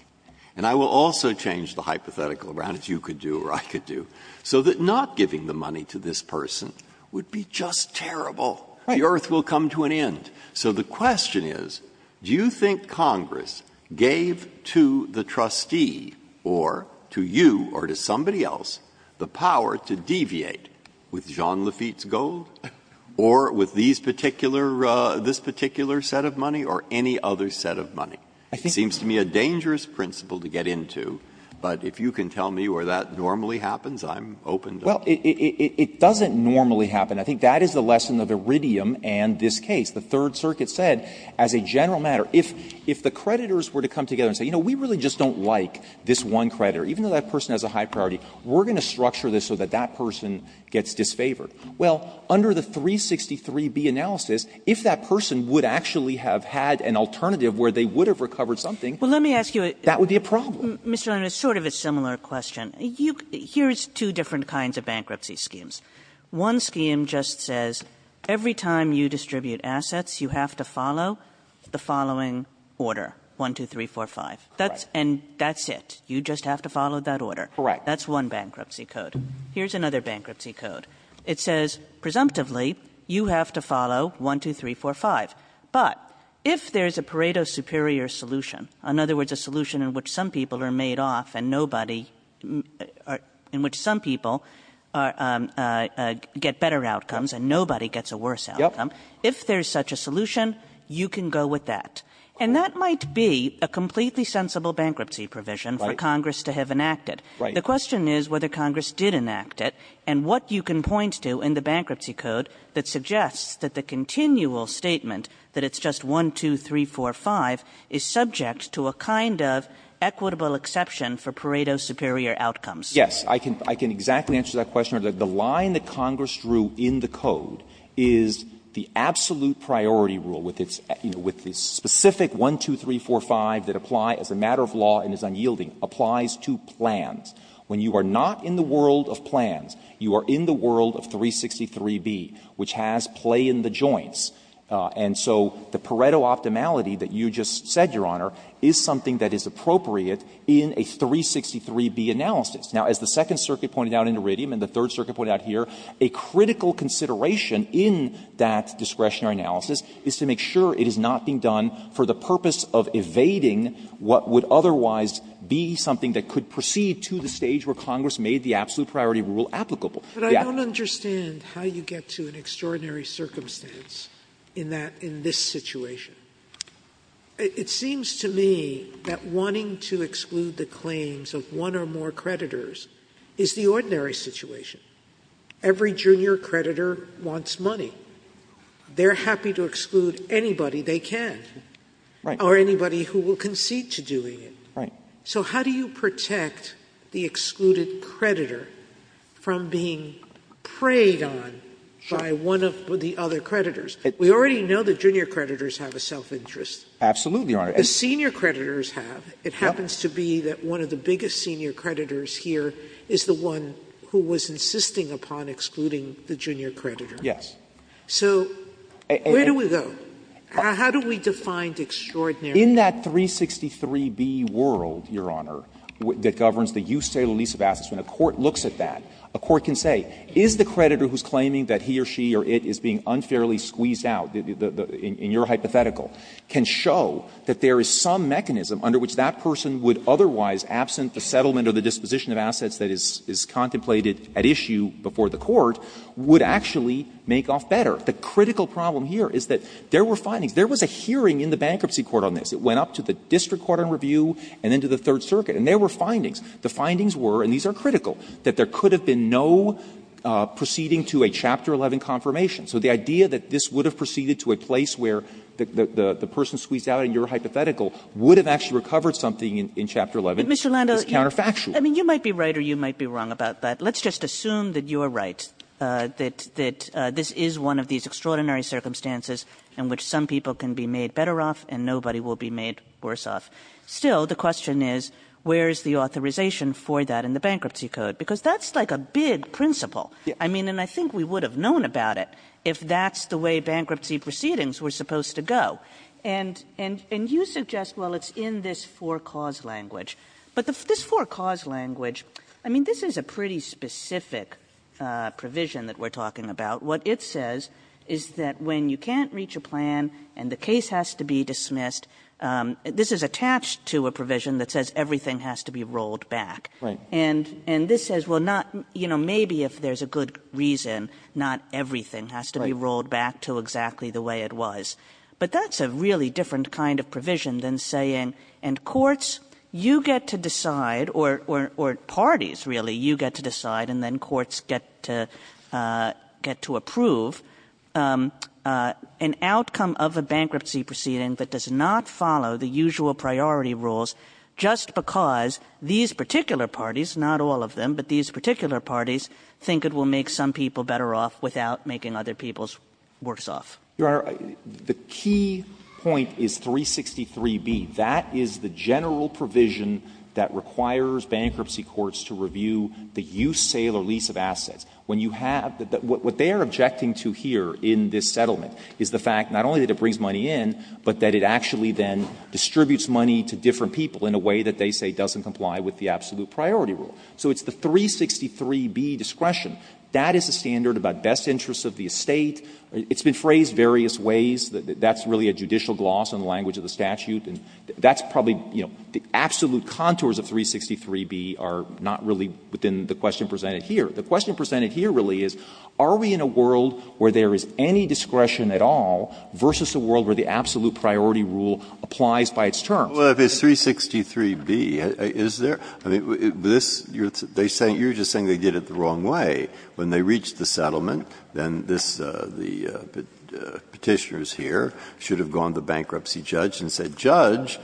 And I will also change the hypothetical around, as you could do or I could do, so that not giving the money to this person would be just terrible. Right. The earth will come to an end. So the question is, do you think Congress gave to the trustee or to you or to somebody else the power to deviate with Jean Lafitte's gold or with these particular – this particular set of money or any other set of money? It seems to me a dangerous principle to get into, but if you can tell me where that normally happens, I'm open to it. Well, it doesn't normally happen. I think that is the lesson of Iridium and this case. The Third Circuit said, as a general matter, if the creditors were to come together and say, you know, we really just don't like this one creditor, even though that person has a high priority, we're going to structure this so that that person gets disfavored. Well, under the 363B analysis, if that person would actually have had an alternative where they would have recovered something, that would be a problem. Well, let me ask you a – Mr. Leonard, it's sort of a similar question. Here's two different kinds of bankruptcy schemes. One scheme just says every time you distribute assets, you have to follow the following order, 1, 2, 3, 4, 5. That's – and that's it. You just have to follow that order. Correct. That's one bankruptcy code. Here's another bankruptcy code. It says, presumptively, you have to follow 1, 2, 3, 4, 5. But if there's a Pareto superior solution, in other words, a solution in which some people are made off and nobody – in which some people get better outcomes and nobody gets a worse outcome, if there's such a solution, you can go with that. And that might be a completely sensible bankruptcy provision for Congress to have enacted. The question is whether Congress did enact it and what you can point to in the bankruptcy code that suggests that the continual statement that it's just 1, 2, 3, 4, 5 is subject to a kind of equitable exception for Pareto superior outcomes. Yes. I can – I can exactly answer that question. The line that Congress drew in the code is the absolute priority rule with its – you know, with the specific 1, 2, 3, 4, 5 that apply as a matter of law and is unyielding applies to plans. When you are not in the world of plans, you are in the world of 363B, which has play in the joints. And so the Pareto optimality that you just said, Your Honor, is something that is appropriate in a 363B analysis. Now, as the Second Circuit pointed out in Iridium and the Third Circuit pointed out here, a critical consideration in that discretionary analysis is to make sure it is not being done for the purpose of evading what would otherwise be something that could proceed to the stage where Congress made the absolute priority rule applicable. But I don't understand how you get to an extraordinary circumstance in that – in this situation. It seems to me that wanting to exclude the claims of one or more creditors is the ordinary situation. Every junior creditor wants money. They're happy to exclude anybody they can. Right. Or anybody who will concede to doing it. Right. So how do you protect the excluded creditor from being preyed on by one of the other creditors? We already know the junior creditors have a self-interest. Absolutely, Your Honor. The senior creditors have. It happens to be that one of the biggest senior creditors here is the one who was insisting upon excluding the junior creditor. Yes. So where do we go? How do we define extraordinary? In that 363B world, Your Honor, that governs the use, sale, or lease of assets, when a court looks at that, a court can say, is the creditor who's claiming that he or she or it is being unfairly squeezed out, in your hypothetical, can show that there is some mechanism under which that person would otherwise, absent the settlement or the disposition of assets that is contemplated at issue before the court, would actually make off better? The critical problem here is that there were findings. There was a hearing in the bankruptcy court on this. It went up to the district court on review and then to the Third Circuit. And there were findings. The findings were, and these are critical, that there could have been no proceeding to a Chapter 11 confirmation. So the idea that this would have proceeded to a place where the person squeezed out in your hypothetical would have actually recovered something in Chapter 11 is counterfactual. Kagan. Kagan. I mean, you might be right or you might be wrong about that. Let's just assume that you are right, that this is one of these extraordinary circumstances in which some people can be made better off and nobody will be made worse off. Still, the question is, where is the authorization for that in the bankruptcy code? Because that's like a big principle. I mean, and I think we would have known about it if that's the way bankruptcy proceedings were supposed to go. And you suggest, well, it's in this four-cause language. But this four-cause language, I mean, this is a pretty specific provision that we're talking about. What it says is that when you can't reach a plan and the case has to be dismissed, this is attached to a provision that says everything has to be rolled back. And this says, well, not, you know, maybe if there's a good reason, not everything has to be rolled back to exactly the way it was. But that's a really different kind of provision than saying, and courts, you get to decide, or parties, really, you get to decide, and then courts get to order. And I think that's a very different kind of provision than saying, well, you know, I'm going to approve an outcome of a bankruptcy proceeding that does not follow the usual priority rules just because these particular parties, not all of them, but these particular parties, think it will make some people better off without making other people's works off. Your Honor, the key point is 363b. That is the general provision that requires bankruptcy courts to review the use, sale, or lease of assets. When you have the — what they are objecting to here in this settlement is the fact not only that it brings money in, but that it actually then distributes money to different people in a way that they say doesn't comply with the absolute priority rule. So it's the 363b discretion. That is a standard about best interests of the estate. It's been phrased various ways. That's really a judicial gloss in the language of the statute. And that's probably, you know, the absolute contours of 363b are not really within the question presented here. The question presented here really is, are we in a world where there is any discretion at all versus a world where the absolute priority rule applies by its terms? Breyer, if it's 363b, is there — I mean, this — you're just saying they did it the wrong way. When they reached the settlement, then this — the Petitioners here should have gone to the bankruptcy judge and said, Judge,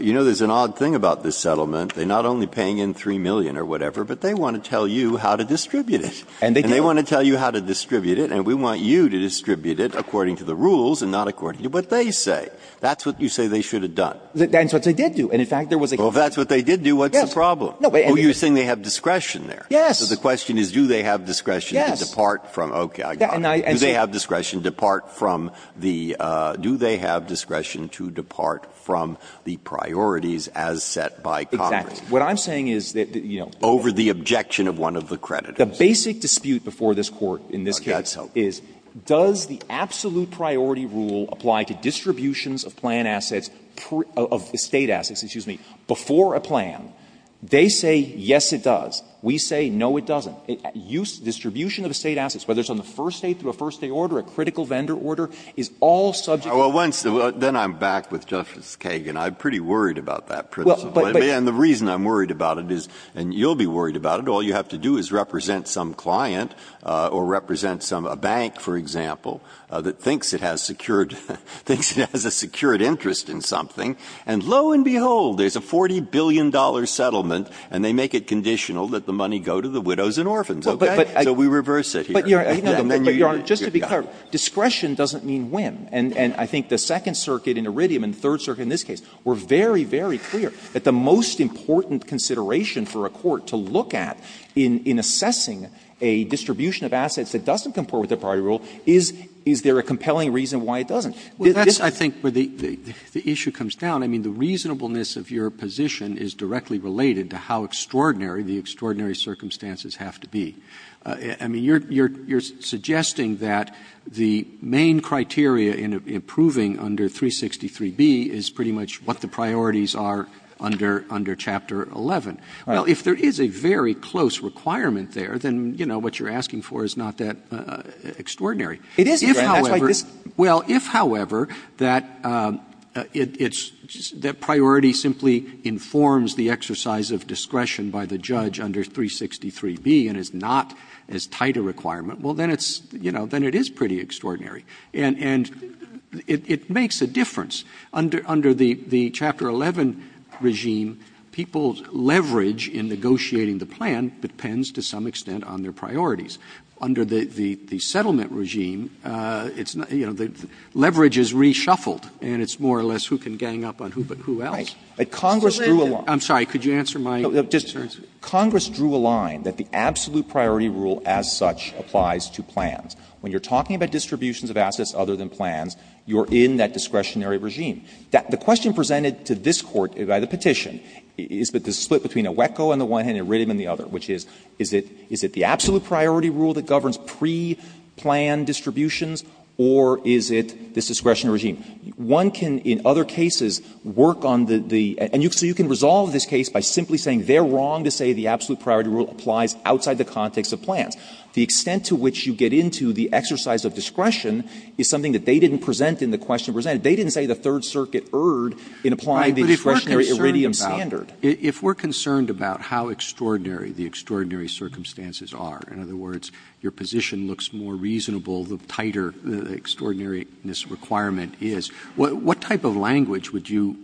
you know, there's an odd thing about this settlement. They're not only paying in $3 million or whatever, but they want to tell you how to distribute it. And they want to tell you how to distribute it, and we want you to distribute it according to the rules and not according to what they say. That's what you say they should have done. That's what they did do. And in fact, there was a — Well, if that's what they did do, what's the problem? No, but — You're saying they have discretion there. Yes. So the question is, do they have discretion to depart from — Yes. Okay, I got it. Do they have discretion to depart from the — do they have discretion to depart from the priorities as set by Congress? Exactly. What I'm saying is that, you know — Over the objection of one of the creditors. The basic dispute before this Court in this case is, does the absolute priority rule apply to distributions of plan assets — of estate assets, excuse me, before a plan? They say, yes, it does. We say, no, it doesn't. Use — distribution of estate assets, whether it's on the first day through a first day order, a critical vendor order, is all subject to — Well, once — then I'm back with Justice Kagan. I'm pretty worried about that principle. But the reason I'm worried about it is — and you'll be worried about it. All you have to do is represent some client or represent some — a bank, for example, that thinks it has secured — thinks it has a secured interest in something. And lo and behold, there's a $40 billion settlement, and they make it conditional. Let the money go to the widows and orphans, okay? So we reverse it here. But, Your Honor, just to be clear, discretion doesn't mean whim. And I think the Second Circuit in Iridium and the Third Circuit in this case were very, very clear that the most important consideration for a court to look at in assessing a distribution of assets that doesn't comport with the priority rule is, is there a compelling reason why it doesn't? Well, that's, I think, where the issue comes down. I mean, the reasonableness of your position is directly related to how extraordinary the extraordinary circumstances have to be. I mean, you're — you're suggesting that the main criteria in approving under 363B is pretty much what the priorities are under — under Chapter 11. Right. Well, if there is a very close requirement there, then, you know, what you're asking for is not that extraordinary. It is, Your Honor. That's why this — If, however — well, if, however, that it's — that priority simply informs the exercise of discretion by the judge under 363B and is not as tight a requirement, well, then it's — you know, then it is pretty extraordinary. And — and it makes a difference. Under the — the Chapter 11 regime, people's leverage in negotiating the plan depends to some extent on their priorities. Under the — the settlement regime, it's not — you know, the leverage is reshuffled, and it's more or less who can gang up on who but who else. But Congress drew a line. I'm sorry. Could you answer my question? Congress drew a line that the absolute priority rule as such applies to plans. When you're talking about distributions of assets other than plans, you're in that discretionary regime. The question presented to this Court by the petition is the split between a WECO on the one hand and a RITM on the other, which is, is it — is it the absolute priority rule that governs pre-plan distributions, or is it this discretionary regime? One can, in other cases, work on the — and so you can resolve this case by simply saying they're wrong to say the absolute priority rule applies outside the context of plans. The extent to which you get into the exercise of discretion is something that they didn't present in the question presented. They didn't say the Third Circuit erred in applying the discretionary Iridium standard. Roberts. If we're concerned about how extraordinary the extraordinary circumstances are, in other words, your position looks more reasonable, the tighter the extraordinariness requirement is, what type of language would you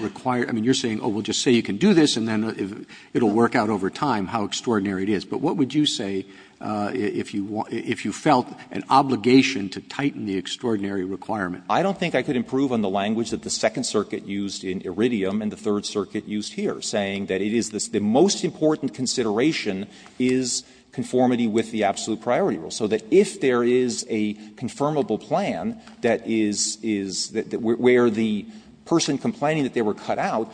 require? I mean, you're saying, oh, we'll just say you can do this, and then it will work out over time how extraordinary it is. But what would you say if you felt an obligation to tighten the extraordinary requirement? I don't think I could improve on the language that the Second Circuit used in Iridium and the Third Circuit used here, saying that it is the most important consideration is conformity with the absolute priority rule, so that if there is a confirmable plan that is the one where the person complaining that they were cut out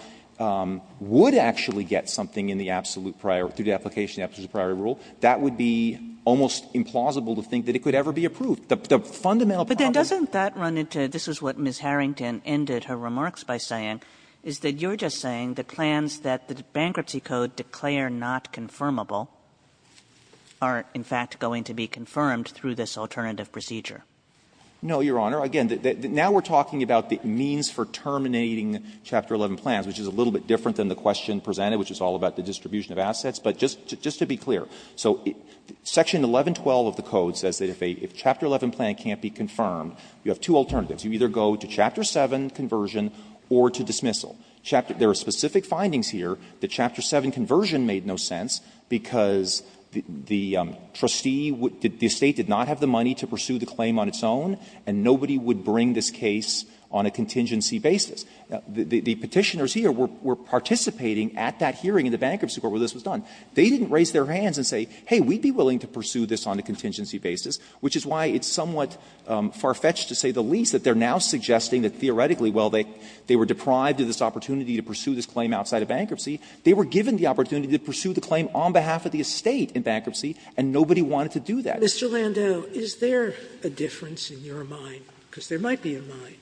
would actually get something in the absolute priority, through the application of the absolute priority rule, that would be almost implausible to think that it could ever be approved. The fundamental problems of this is what Ms. Harrington ended her remarks by saying is that you're just saying the plans that the bankruptcy code declare not confirmable are, in fact, going to be confirmed through this alternative procedure. No, Your Honor. Again, now we're talking about the means for terminating Chapter 11 plans, which is a little bit different than the question presented, which is all about the distribution of assets. But just to be clear, so Section 1112 of the code says that if a Chapter 11 plan can't be confirmed, you have two alternatives. You either go to Chapter 7 conversion or to dismissal. There are specific findings here that Chapter 7 conversion made no sense because the trustee, the estate did not have the money to pursue the claim on its own, and nobody would bring this case on a contingency basis. The Petitioners here were participating at that hearing in the Bankruptcy Court where this was done. They didn't raise their hands and say, hey, we'd be willing to pursue this on a contingency basis, which is why it's somewhat far-fetched to say the least that they're now suggesting that theoretically, while they were deprived of this opportunity to pursue this claim outside of bankruptcy, they were given the opportunity to pursue the claim on behalf of the estate in bankruptcy, and nobody wanted to do that. Sotomayor, is there a difference in your mind, because there might be in mine,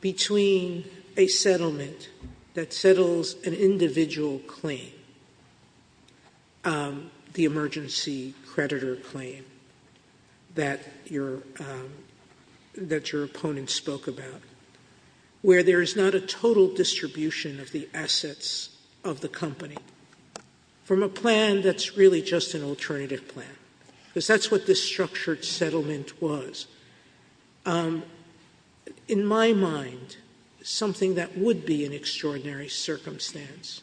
between a settlement that settles an individual claim, the emergency creditor claim that your opponent spoke about, where there is not a total distribution of the assets of the claimant, and a plan that's really just an alternative plan, because that's what this structured settlement was? In my mind, something that would be an extraordinary circumstance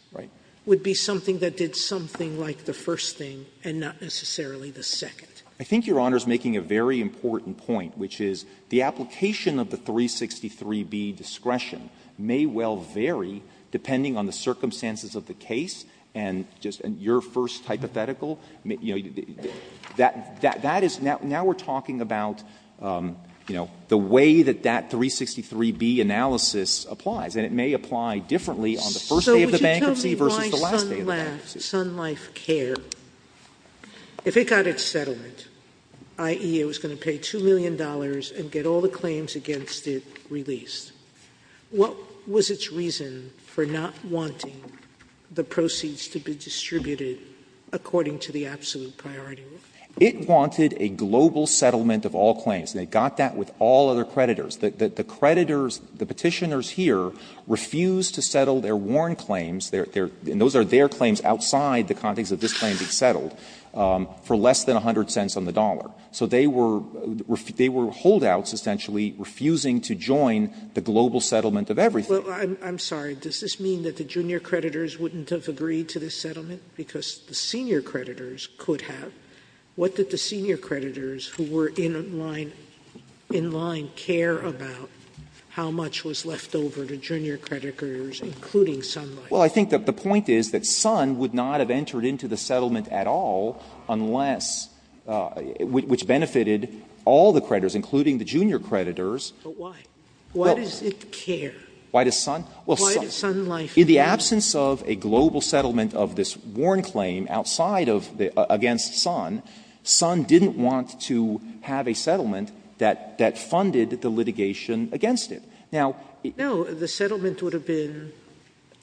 would be something that did something like the first thing and not necessarily the second. I think Your Honor is making a very important point, which is the application of the 363B discretion may well vary depending on the circumstances of the case and just your first hypothetical. That is now we're talking about the way that that 363B analysis applies, and it may apply differently on the first day of the bankruptcy versus the last day of the bankruptcy. Sotomayor, so would you tell me why Sun Life Care, if it got its settlement, i.e., it was going to pay $2 million and get all the claims against it released, what was its reason for not wanting the proceeds to be distributed according to the absolute priority rule? It wanted a global settlement of all claims. They got that with all other creditors. The creditors, the Petitioners here, refused to settle their warrant claims, and those are their claims outside the context of this claim being settled, for less than $0.10 on the dollar. So they were holdouts, essentially, refusing to join the global settlement Sotomayor, I'm sorry. Does this mean that the junior creditors wouldn't have agreed to this settlement because the senior creditors could have? What did the senior creditors who were in line care about, how much was left over to junior creditors, including Sun Life? Well, I think that the point is that Sun would not have entered into the settlement at all unless — which benefited all the creditors, including the junior creditors. But why? Why does it care? Why does Sun? Why does Sun Life care? In the absence of a global settlement of this warrant claim outside of the — against Sun, Sun didn't want to have a settlement that funded the litigation against it. Now, the settlement would have been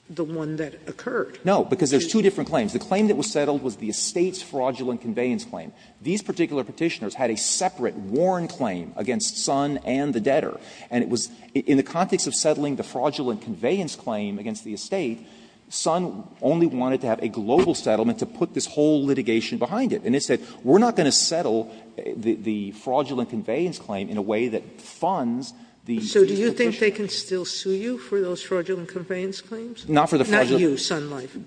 the one that occurred. No, because there's two different claims. The claim that was settled was the estate's fraudulent conveyance claim. These particular Petitioners had a separate warrant claim against Sun and the debtor. And it was in the context of settling the fraudulent conveyance claim against the estate, Sun only wanted to have a global settlement to put this whole litigation behind it. And it said, we're not going to settle the fraudulent conveyance claim in a way that funds the Petitioners. Sotomayor, do you think they can still sue you for those fraudulent conveyance claims? Not for the fraudulent. Not you, Sun Life.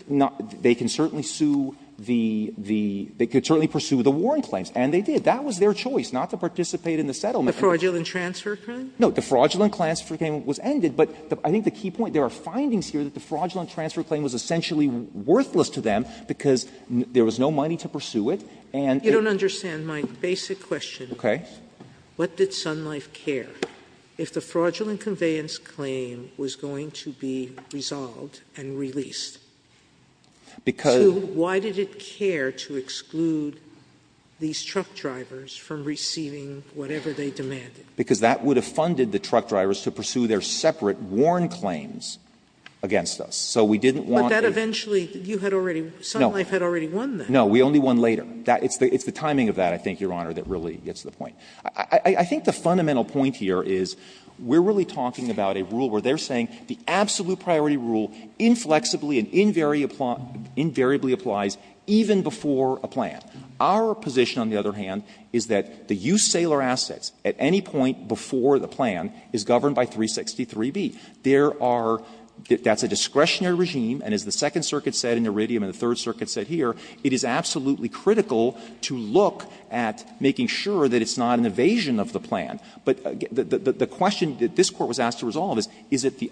They can certainly sue the — they could certainly pursue the warrant claims. And they did. That was their choice, not to participate in the settlement. The fraudulent transfer claim? No. The fraudulent transfer claim was ended. But I think the key point, there are findings here that the fraudulent transfer claim was essentially worthless to them because there was no money to pursue it. You don't understand my basic question. Okay. What did Sun Life care? If the fraudulent conveyance claim was going to be resolved and released, to why did it care to exclude these truck drivers from receiving whatever they demanded? Because that would have funded the truck drivers to pursue their separate warrant claims against us. So we didn't want to do that. But that eventually, you had already — Sun Life had already won that. No. We only won later. It's the timing of that, I think, Your Honor, that really gets the point. I think the fundamental point here is we're really talking about a rule where they're saying the absolute priority rule inflexibly and invariably applies even before a plan. Our position, on the other hand, is that the used sailor assets at any point before the plan is governed by 363B. There are — that's a discretionary regime, and as the Second Circuit said in Iridium and the Third Circuit said here, it is absolutely critical to look at making sure that it's not an evasion of the plan. But the question that this Court was asked to resolve is, is it the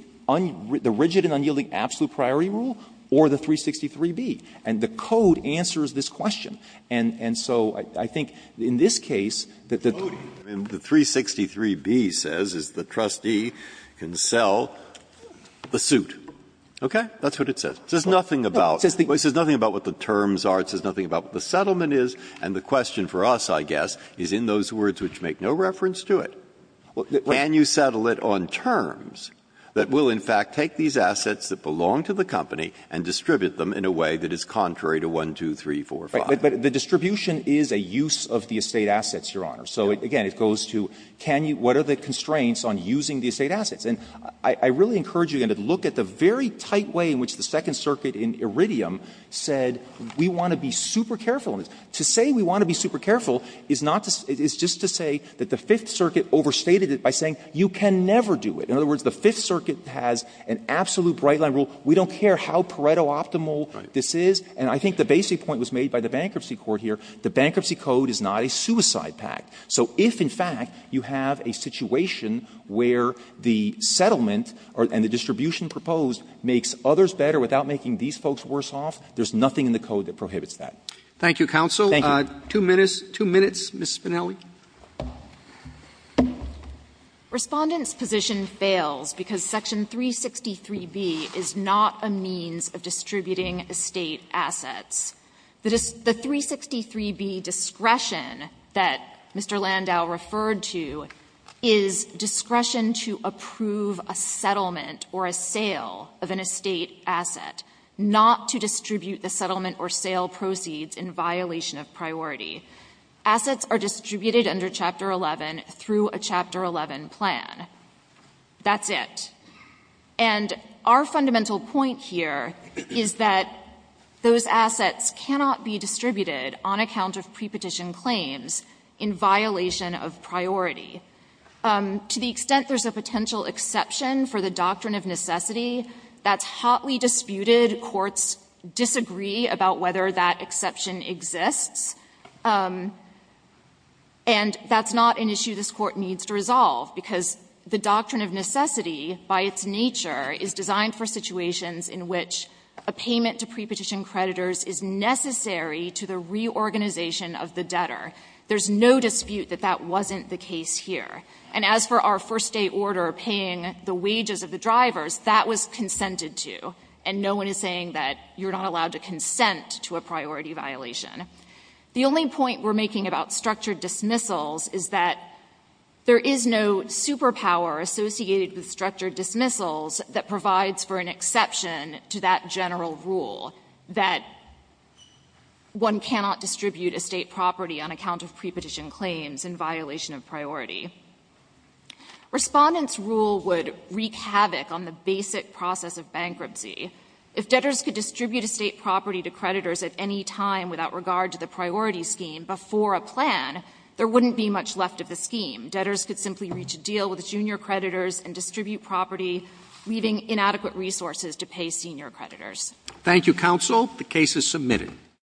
rigid and unyielding absolute priority rule or the 363B? And the code answers this question. And so I think in this case, that the — Breyer. The code in the 363B says is the trustee can sell the suit. Okay? That's what it says. It says nothing about — it says nothing about what the terms are. It says nothing about what the settlement is. And the question for us, I guess, is in those words which make no reference to it. Can you settle it on terms that will, in fact, take these assets that belong to the company and distribute them in a way that is contrary to 1, 2, 3, 4, 5? Right. But the distribution is a use of the estate assets, Your Honor. So again, it goes to can you — what are the constraints on using the estate assets? And I really encourage you, again, to look at the very tight way in which the Second Circuit overstated it by saying you can never do it. In other words, the Fifth Circuit has an absolute bright-line rule, we don't care how Pareto-optimal this is. And I think the basic point was made by the Bankruptcy Court here, the Bankruptcy Code is not a suicide pact. So if, in fact, you have a situation where the settlement and the distribution proposed makes others better without making these folks worse off, there's nothing in the code that prohibits that. Roberts Thank you, counsel. Two minutes. Two minutes, Ms. Spinelli. Spinelli Respondent's position fails because Section 363B is not a means of distributing estate assets. The 363B discretion that Mr. Landau referred to is discretion to approve a settlement or a sale of an estate asset, not to distribute the settlement or sale proceeds in violation of priority. Assets are distributed under Chapter 11 through a Chapter 11 plan. That's it. And our fundamental point here is that those assets cannot be distributed on account of prepetition claims in violation of priority. To the extent there's a potential exception for the doctrine of necessity, that's hotly disputed. Courts disagree about whether that exception exists. And that's not an issue this Court needs to resolve, because the doctrine of necessity by its nature is designed for situations in which a payment to prepetition creditors is necessary to the reorganization of the debtor. There's no dispute that that wasn't the case here. And as for our first day order paying the wages of the drivers, that was consented to, and no one is saying that you're not allowed to consent to a priority violation. The only point we're making about structured dismissals is that there is no superpower associated with structured dismissals that provides for an exception to that general rule that one cannot distribute estate property on account of prepetition claims in violation of priority. Respondents' rule would wreak havoc on the basic process of bankruptcy. If debtors could distribute estate property to creditors at any time without regard to the priority scheme before a plan, there wouldn't be much left of the scheme. Debtors could simply reach a deal with junior creditors and distribute property, leaving inadequate resources to pay senior creditors. Roberts. Thank you, counsel. The case is submitted.